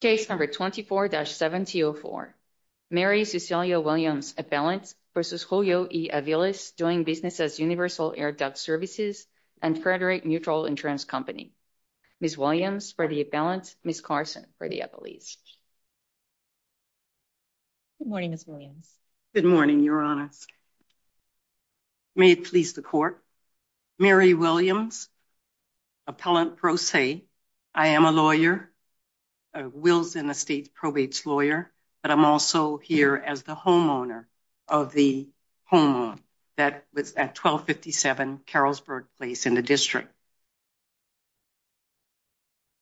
Case number 24-7004. Mary Cecilia Williams, appellant, versus Julio E. Aviles, doing business as Universal Air Dock Services and Frederick Mutual Insurance Company. Ms. Williams for the appellant, Ms. Carson for the appellees. Good morning, Ms. Williams. Good morning, Your Honor. May it please the Court, Mary Williams, appellant pro se. I am a lawyer, a Wills and Estates Probates lawyer, but I'm also here as the homeowner of the home that was at 1257 Carrollsburg Place in the District.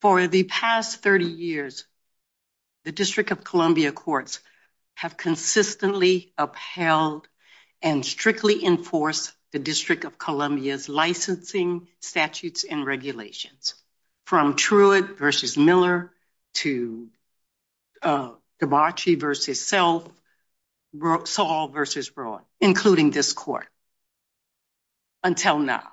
For the past 30 years, the District of Columbia Courts have consistently upheld and strictly enforced the District of Columbia's licensing statutes and regulations, from Truett v. Miller to DeBacci v. Self, Saul v. Broad, including this Court, until now.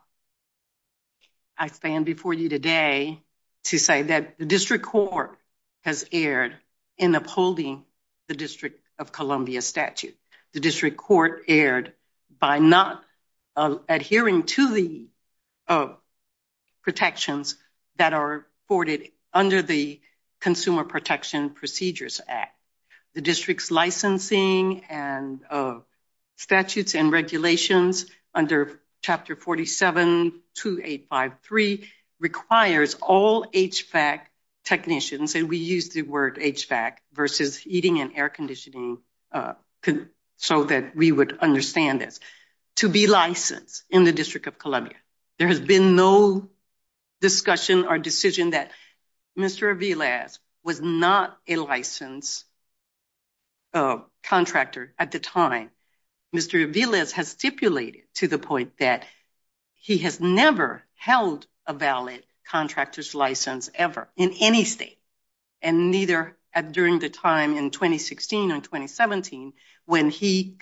I stand before you today to say that the District Court has erred in upholding the District of Columbia statute. The District Court erred by not adhering to the protections that are afforded under the Consumer Protection Procedures Act. The District's licensing and statutes and regulations under Chapter 47-2853 requires all HVAC technicians, and we use the word HVAC, versus heating and air conditioning, so that we would understand this, to be licensed in the District of Columbia. There has been no discussion or decision that Mr. Aviles was not a licensed contractor at the time. Mr. Aviles has stipulated to the point that he has never held a valid contractor's license ever, in any state, and neither during the time in 2016 or 2017 when he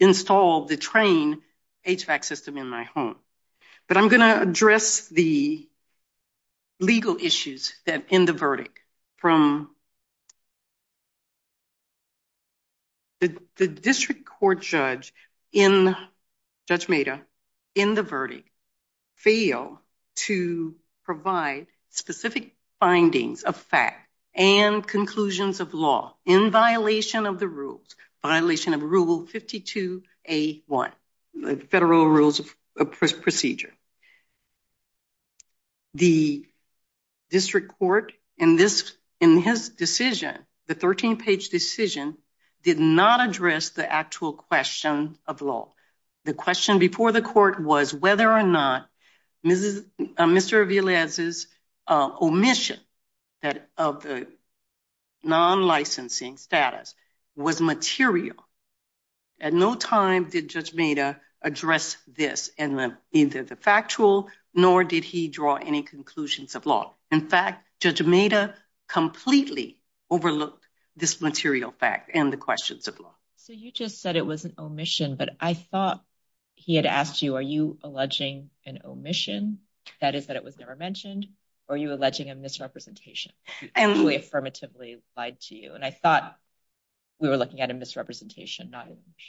installed the trained HVAC system in my home. But I'm going to address the legal issues in the verdict. The District Court judge, Judge Meda, in the verdict, failed to provide specific findings of fact and conclusions of law in violation of the rules, violation of Rule 52A1, the Federal Rules of Procedure. The District Court, in this, in his decision, the 13-page decision, did not address the actual question of law. The question before the Court was whether or not Mr. Aviles' omission of the non-licensing status was material. At no time did Judge Meda address this in either the factual nor did he draw any conclusions of law. In fact, Judge Meda completely overlooked this material fact and the questions of law. So you just said it was an omission, but I thought he had asked you, are you alleging an omission, that is that it was never mentioned, or are you alleging a misrepresentation? And we affirmatively lied to you, and I thought we were looking at a misrepresentation, not an omission.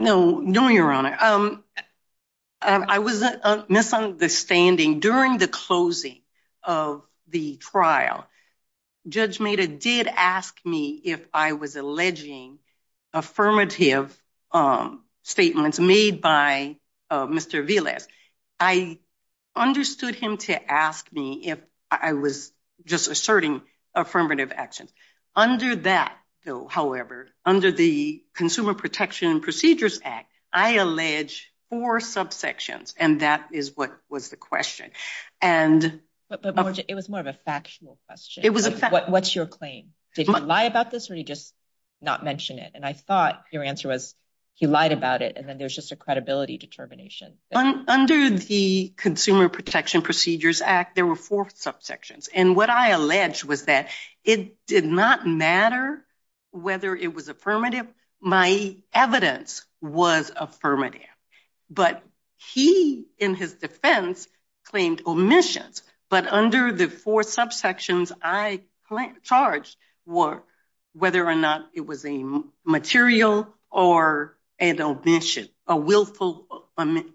No, no, Your Honor. I was misunderstanding. During the closing of the trial, Judge Meda did ask me if I was alleging affirmative statements made by Mr. Aviles. I understood him to ask me if I was just asserting affirmative actions. Under that, though, however, under the Consumer Protection and Procedures Act, I allege four subsections, and that is what was the question. But it was more of a factual question. What's your claim? Did he lie about this or did he just not mention it? And I thought your answer was he lied about it, and then there's just a credibility determination. Under the Consumer Protection and Procedures Act, there were four subsections, and what I alleged was that it did not matter whether it was affirmative. My evidence was affirmative. But he, in his defense, claimed omissions. But under the four subsections, I charged whether or not it was a material or an omission, a willful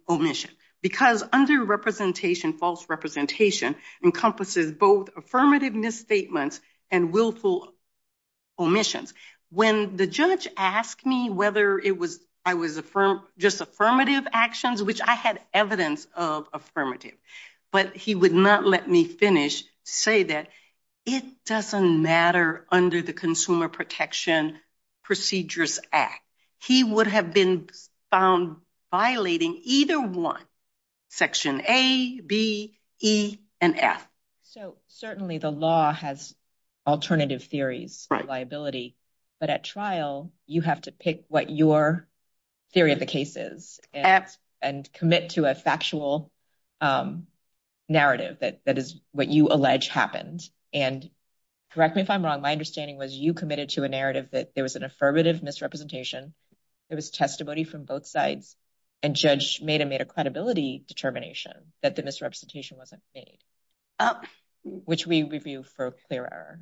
omission. Because underrepresentation, false representation, encompasses both affirmative misstatements and willful omissions. When the judge asked me whether I was just affirmative actions, which I had evidence of affirmative, but he would not let me finish to say that it doesn't matter under the Consumer Protection and Procedures Act. He would have been found violating either one, section A, B, E, and F. So certainly the law has alternative theories of liability, but at trial, you have to pick what your theory of the case is and commit to a factual narrative that is what you allege happened. And correct me if I'm wrong, my understanding was you committed to a narrative that there was an affirmative misrepresentation, there was testimony from both sides, and judge made a credibility determination that the misrepresentation wasn't made, which we review for clear error.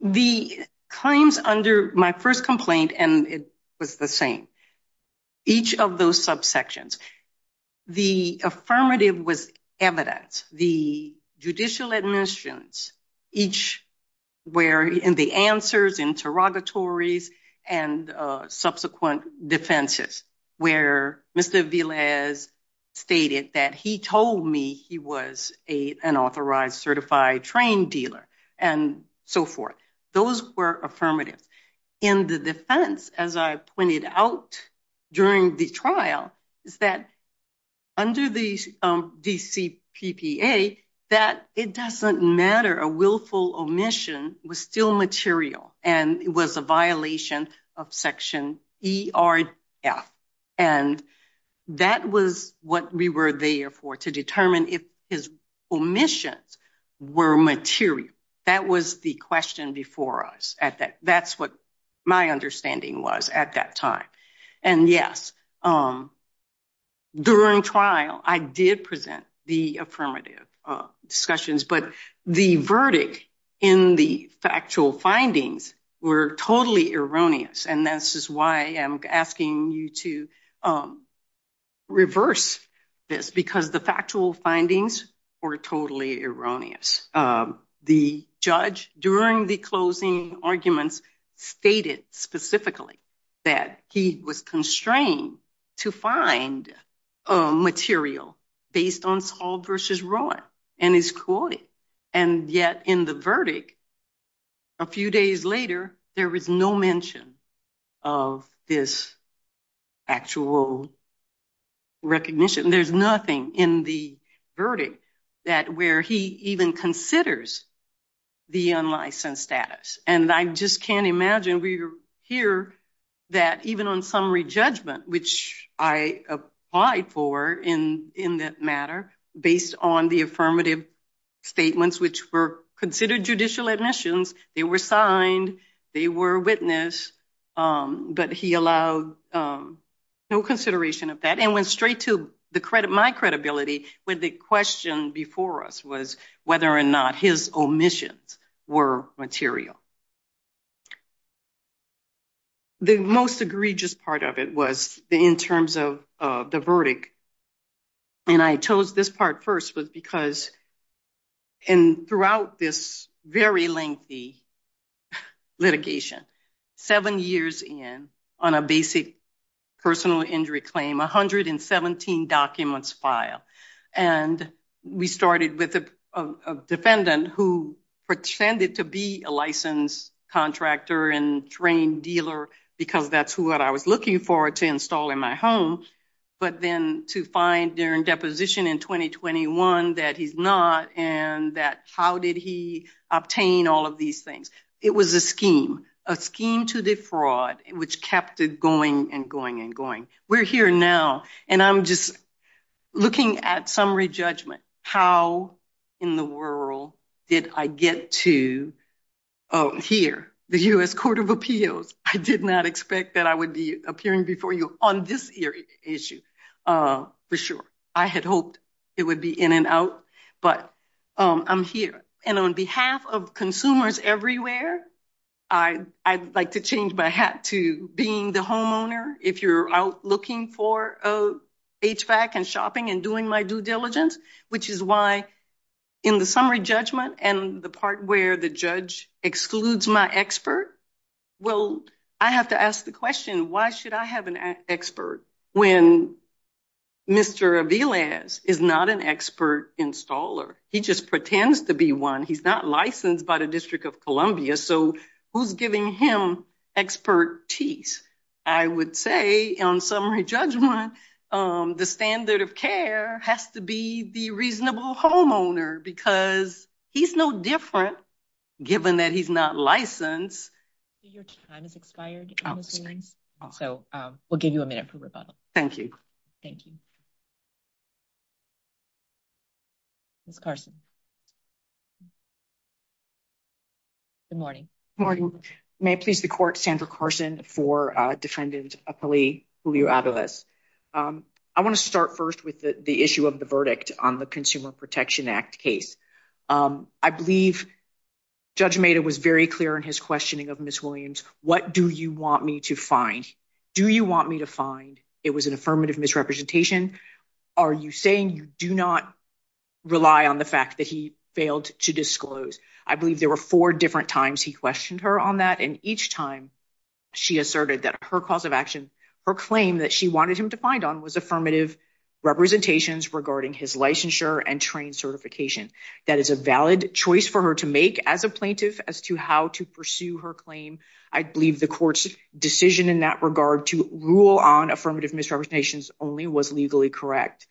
The claims under my first complaint, and it was the same, each of those subsections, the affirmative was evidence. The judicial admissions, each were in the answers, interrogatories, and subsequent defenses, where Mr. Velez stated that he told me he was an authorized, certified, trained dealer, and so forth. Those were affirmative. In the defense, as I pointed out during the trial, is that under the DCPPA, that it doesn't matter, a willful omission was still material, and it was a violation of section E, R, F. And that was what we were there for, to determine if his omissions were material. That was the question before us. That's what my understanding was at that time. And yes, during trial, I did present the affirmative discussions, but the verdict in the factual findings were totally erroneous. And this is why I'm asking you to reverse this, because the factual findings were totally erroneous. The judge, during the closing to find material based on Sald versus Rowan, and his quality, and yet in the verdict, a few days later, there was no mention of this actual recognition. There's nothing in the verdict that where he even considers the unlicensed status. And I just can't imagine we hear that even on summary judgment, which I applied for in that matter, based on the affirmative statements, which were considered judicial admissions, they were signed, they were witnessed, but he allowed no consideration of that, and went straight to the credit, my credibility, when the question before us was whether or not his omissions were material. The most egregious part of it was in terms of the verdict. And I chose this part first was because throughout this very lengthy litigation, seven years in, on a basic personal injury claim, 117 documents filed. And we started with a defendant who pretended to be a licensed contractor and trained dealer, because that's what I was looking for to install in my home, but then to find during deposition in 2021 that he's not, and that how did he obtain all of these It was a scheme, a scheme to defraud, which kept it going and going and going. We're here now, and I'm just looking at summary judgment. How in the world did I get to here, the U.S. Court of Appeals? I did not expect that I would be appearing before you on this issue, for sure. I had hoped it would be in and out, but I'm here. And on behalf of consumers everywhere, I'd like to change my hat to being the homeowner. If you're out looking for HVAC and shopping and doing my due diligence, which is why in the summary judgment and the part where the judge excludes my expert, well, I have to ask the question, why should I have an expert when Mr. Aviles is not an expert installer? He just pretends to be one. He's not licensed by the District of Columbia, so who's giving him expertise? I would say on summary judgment, the standard of care has to be the reasonable homeowner, because he's no different, given that he's not licensed. Your time has expired. So we'll give you a minute for rebuttal. Thank you. Thank you. Ms. Carson. Good morning. Good morning. May it please the Court, Sandra Carson for Defendant Apollio Aviles. I want to start first with the issue of the verdict on the Consumer Protection Act case. I believe Judge Maida was very clear in his questioning of Ms. Williams, what do you want me to find? Do you want me to find it was an affirmative misrepresentation? Are you saying you do not rely on the fact that he failed to disclose? I believe there were four different times he questioned her on that, and each time she asserted that her cause of action, her claim that she wanted him to find on was affirmative representations regarding his licensure and trained certification. That is a valid choice for her to make as a plaintiff as to how to pursue her claim. I believe the Court's decision in that regard to rule on affirmative misrepresentations only was legally correct.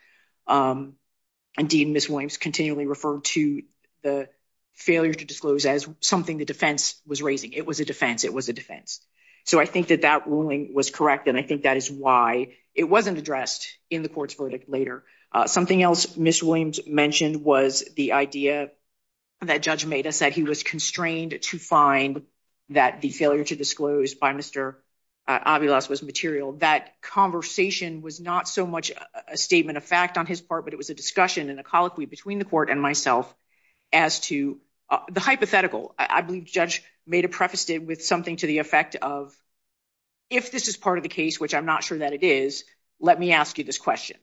Indeed, Ms. Williams continually referred to the failure to disclose as something the defense was raising. It was a defense. It was a defense. So I think that that ruling was correct, and I think that is why it wasn't addressed in the Court's verdict later. Something else Ms. Williams mentioned was the idea that Judge Maida said he was constrained to find that the failure to disclose by Mr. Avilaz was material. That conversation was not so much a statement of fact on his part, but it was a discussion and a colloquy between the Court and myself as to the hypothetical. I believe Judge Maida prefaced it with something to the effect of, if this is part of the case, which I'm not sure that it is, let me ask you this question,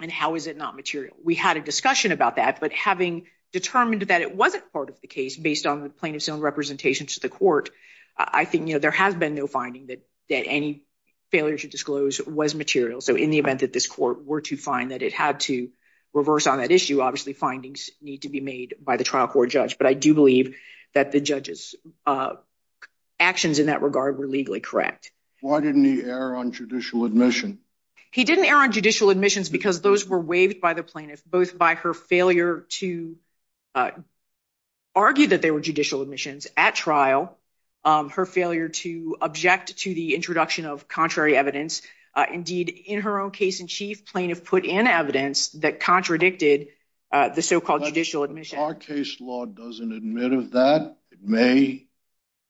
and how is it not material? We had a discussion about that, but having determined that it wasn't part of the case based on the plaintiff's own representation to the Court, I think there has been no finding that any failure to disclose was material. So in the event that this Court were to find that it had to reverse on that issue, obviously findings need to be made by the trial court judge. But I do believe that the judge's actions in that regard were legally correct. Why didn't he err on judicial admission? He didn't err on judicial admissions because those were waived by the plaintiff, both by her failure to argue that they were judicial admissions at trial, her failure to object to the introduction of contrary evidence, indeed in her own case in chief plaintiff put in evidence that contradicted the so-called judicial admission. Our case law doesn't admit of that. It may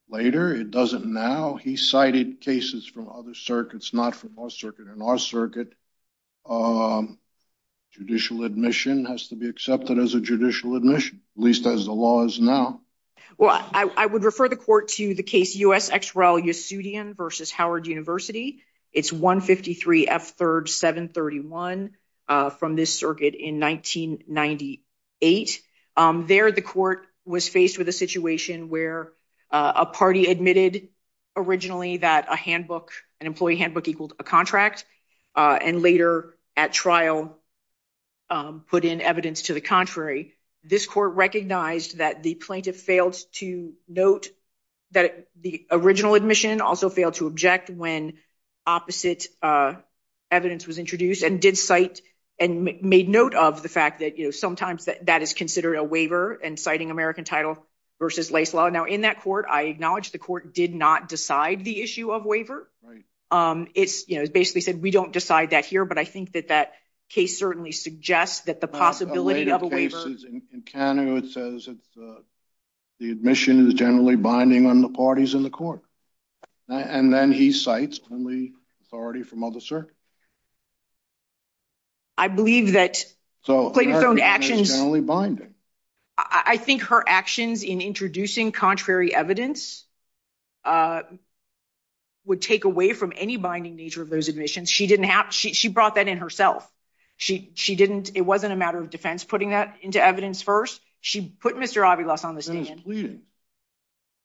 later, it doesn't now. He cited cases from other circuits, not from our circuit. In our circuit, judicial admission has to be accepted as a judicial admission, at least as the law is now. Well, I would refer the Court to the case U.S. X. Raul Yesudian v. Howard University. It's 153 F. 3rd 731 from this circuit in 1998. There the Court was faced with a situation where a party admitted originally that a handbook, an employee handbook, equaled a contract and later at trial put in evidence to the contrary. This Court recognized that the plaintiff failed to note that the original admission also failed to object when opposite evidence was introduced and did cite and made note of the fact that, you know, sometimes that that is considered a waiver and citing American title versus Now in that Court, I acknowledge the Court did not decide the issue of waiver. It's, you know, basically said we don't decide that here, but I think that that case certainly suggests that the possibility of a waiver. The admission is generally binding on the parties in the Court. And then he cites only authority from other circuits. I believe that plaintiff's own actions. Binding, I think her actions in introducing contrary evidence would take away from any binding nature of those admissions. She didn't have she brought that in herself. She she didn't. It wasn't a matter of defense putting that into evidence first. She put Mr. Avila on the stand.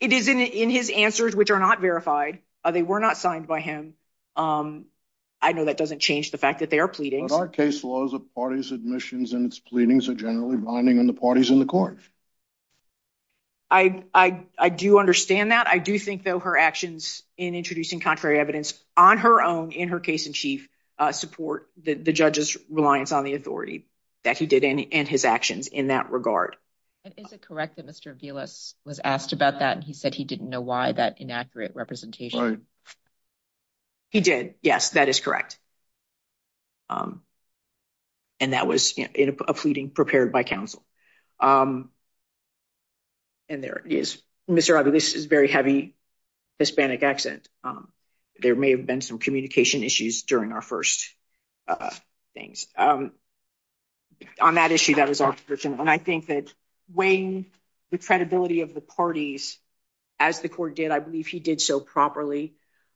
It is in his answers, which are not verified. They were not signed by him. I know that doesn't change the fact that they are pleading. Our case laws of parties admissions and its pleadings are generally binding on the parties in the Court. I do understand that. I do think, though, her actions in introducing contrary evidence on her own in her case in chief support the judge's reliance on the authority that he did in his actions in that regard. Is it correct that Mr. Avila was asked about that? He said he didn't know why that inaccurate representation. He did. Yes, that is correct. And that was a pleading prepared by counsel. And there is Mr. Avila, this is very heavy Hispanic accent. There may have been some communication issues during our first things. On that issue, that was our version. And I think that weighing the credibility of the parties as the court did, I believe he did so properly.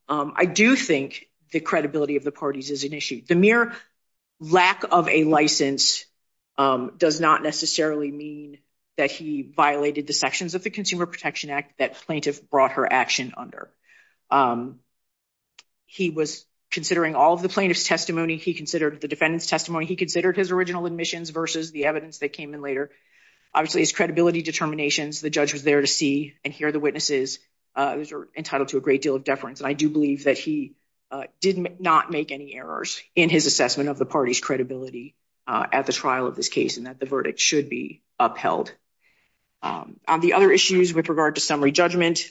I do think the credibility of the parties is an issue. The mere lack of a license does not necessarily mean that he violated the sections of the Consumer Protection Act that plaintiff brought her action under. He was considering all of the plaintiff's testimony. He considered the defendant's testimony. He considered his original admissions versus the evidence that came in later. Obviously, his credibility determinations, the judge was there to see and hear the witnesses. Those are entitled to a great deal of deference. And I do believe that he did not make any errors in his assessment of the party's credibility at the trial of this case, and that the verdict should be upheld. On the other issues with regard to summary judgment,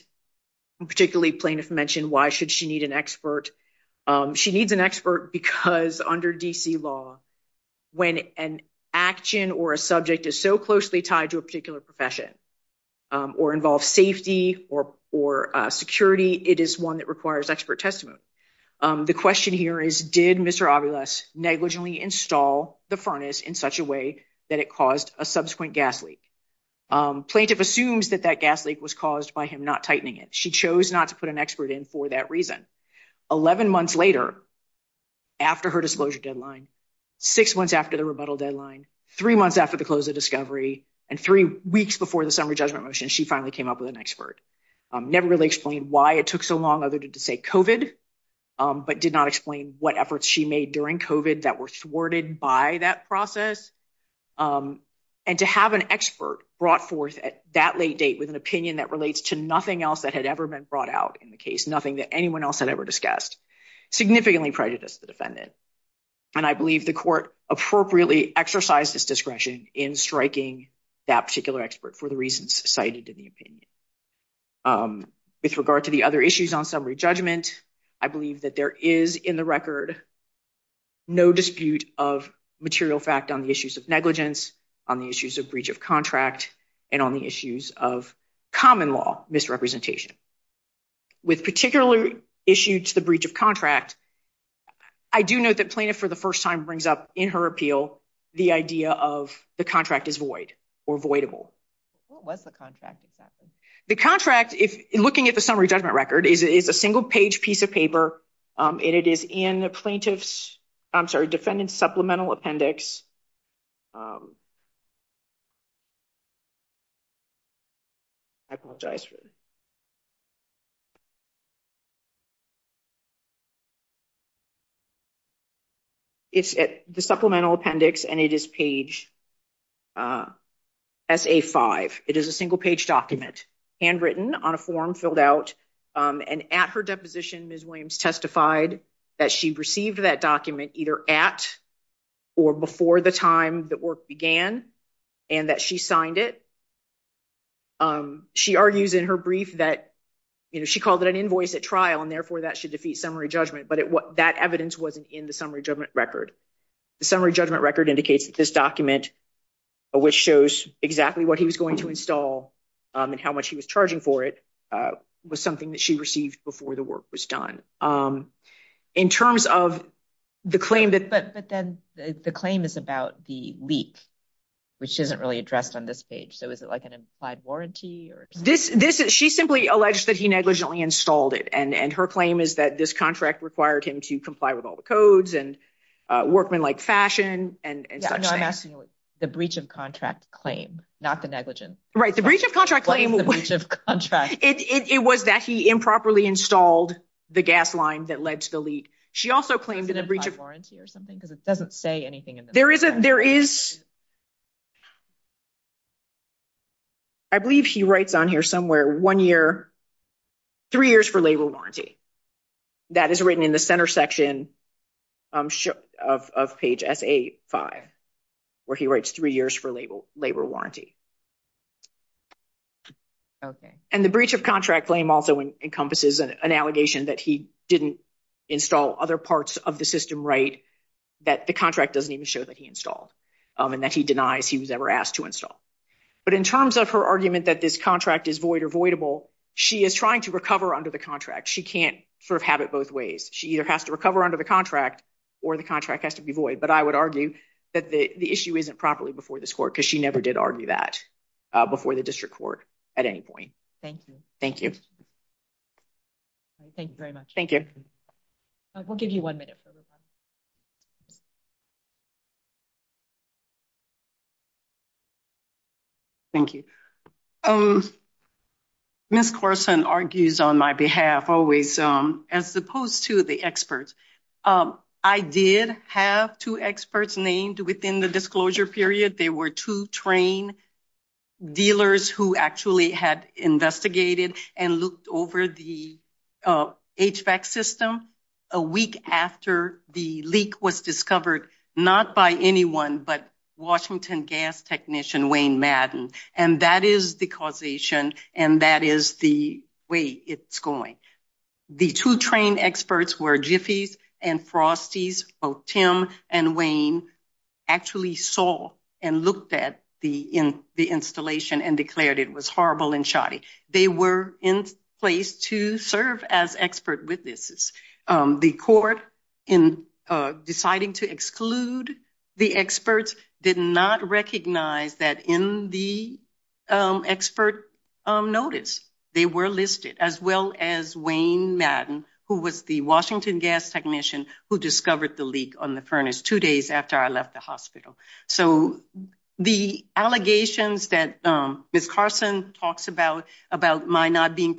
particularly plaintiff mentioned, why should she need an expert? She needs an expert because under D.C. law, when an action or a subject is so closely tied to a particular profession or involves safety or security, it is one that requires expert testimony. The question here is, did Mr. Aviles negligently install the furnace in such a way that it caused a subsequent gas leak? Plaintiff assumes that that gas leak was caused by him not tightening it. She chose not to put an expert in for that reason. Eleven months later, after her disclosure deadline, six months after the rebuttal deadline, three months after the close of discovery, and three weeks before the summary judgment motion, she finally came up with an expert. Never really explained why it took so long other than to say COVID, but did not explain what efforts she made during COVID that were thwarted by that process. And to have an expert brought forth at that late date with an opinion that relates to nothing else that had ever been brought out in the case, nothing that anyone else had ever discussed, significantly prejudiced the defendant. And I believe the court appropriately exercised this discretion in striking that particular expert for the reasons cited in the opinion. With regard to the other issues on summary judgment, I believe that there is in the record no dispute of material fact on the issues of negligence, on the issues of breach of contract, and on the issues of common law misrepresentation. With particular issue to the breach of contract, I do note that plaintiff for the first time brings up in her appeal the idea of the contract is void or voidable. What was the contract exactly? The contract, if looking at the summary judgment record, is a single page piece of paper, and it is in the plaintiff's, I'm sorry, defendant's supplemental appendix. I apologize for that. It's the supplemental appendix, and it is page SA-5. It is a single page document, handwritten on a form filled out. And at her deposition, Ms. Williams testified that she received that document either at or before the time that work began, and that she signed it. She argues in her brief that, you know, she called it an invoice at trial, and therefore that should defeat summary judgment. But that evidence wasn't in the summary judgment record. The summary judgment record indicates that this document, which shows exactly what he was going to install and how much he was charging for it, was something that she received before the work was done. In terms of the claim that- But then the claim is about the leak, which isn't really addressed on this page. So, is it like an implied warranty? She simply alleged that he negligently installed it, and her claim is that this contract required him to comply with all the codes and workmanlike fashion and such things. I'm asking the breach of contract claim, not the negligence. Right. The breach of contract claim- The breach of contract. It was that he improperly installed the gas line that led to the leak. She also claimed- Is it an implied warranty or something? Because it doesn't say anything in the contract. There is. I believe he writes on here somewhere, one year, three years for labor warranty. That is written in the center section of page SA-5, where he writes three years for labor warranty. And the breach of contract claim also encompasses an allegation that he didn't install other parts of the system right, that the contract doesn't even show that he installed, and that he denies he was ever asked to install. But in terms of her argument that this contract is void or voidable, she is trying to recover under the contract. She can't sort of have it both ways. She either has to recover under the contract or the contract has to be void. But I would argue that the issue isn't properly before this court, because she never did argue that before the district court at any point. Thank you. Thank you. Thank you very much. Thank you. We'll give you one minute for the question. Thank you. Ms. Corson argues on my behalf always, as opposed to the experts, I did have two experts named within the disclosure period. They were two trained dealers who actually had investigated and looked over the HVAC system a week after the leak was discovered, not by anyone but Washington gas technician Wayne Madden. And that is the causation, and that is the way it's going. The two trained experts were Jiffy's and Frosty's, both Tim and Wayne actually saw and looked at the installation and declared it was horrible and shoddy. They were in place to serve as expert witnesses. The court in deciding to exclude the experts did not recognize that in the expert notice, they were listed as well as Wayne Madden, who was the Washington gas technician who discovered the leak on the furnace two days after I left the hospital. So the allegations that Ms. Carson talks about, about my not being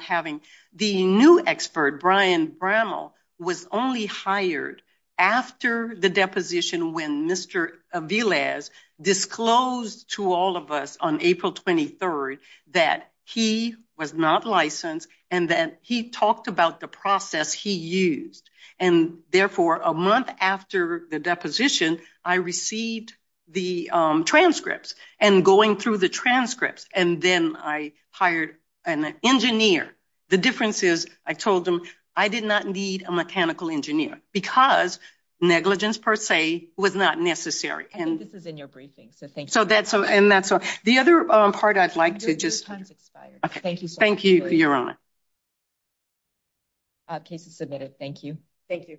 having the new expert, Brian Brammel, was only hired after the deposition when Mr. Aviles disclosed to all of us on April 23rd that he was not licensed and that he talked about the process he used. And therefore a month after the deposition, I received the transcripts and going through the transcripts and then I hired an engineer. The difference is I told them I did not need a mechanical engineer because negligence per se was not necessary. This is in your briefing, so thank you. So that's so and that's the other part I'd like to just thank you. Thank you, Your Honor. Case is submitted. Thank you. Thank you.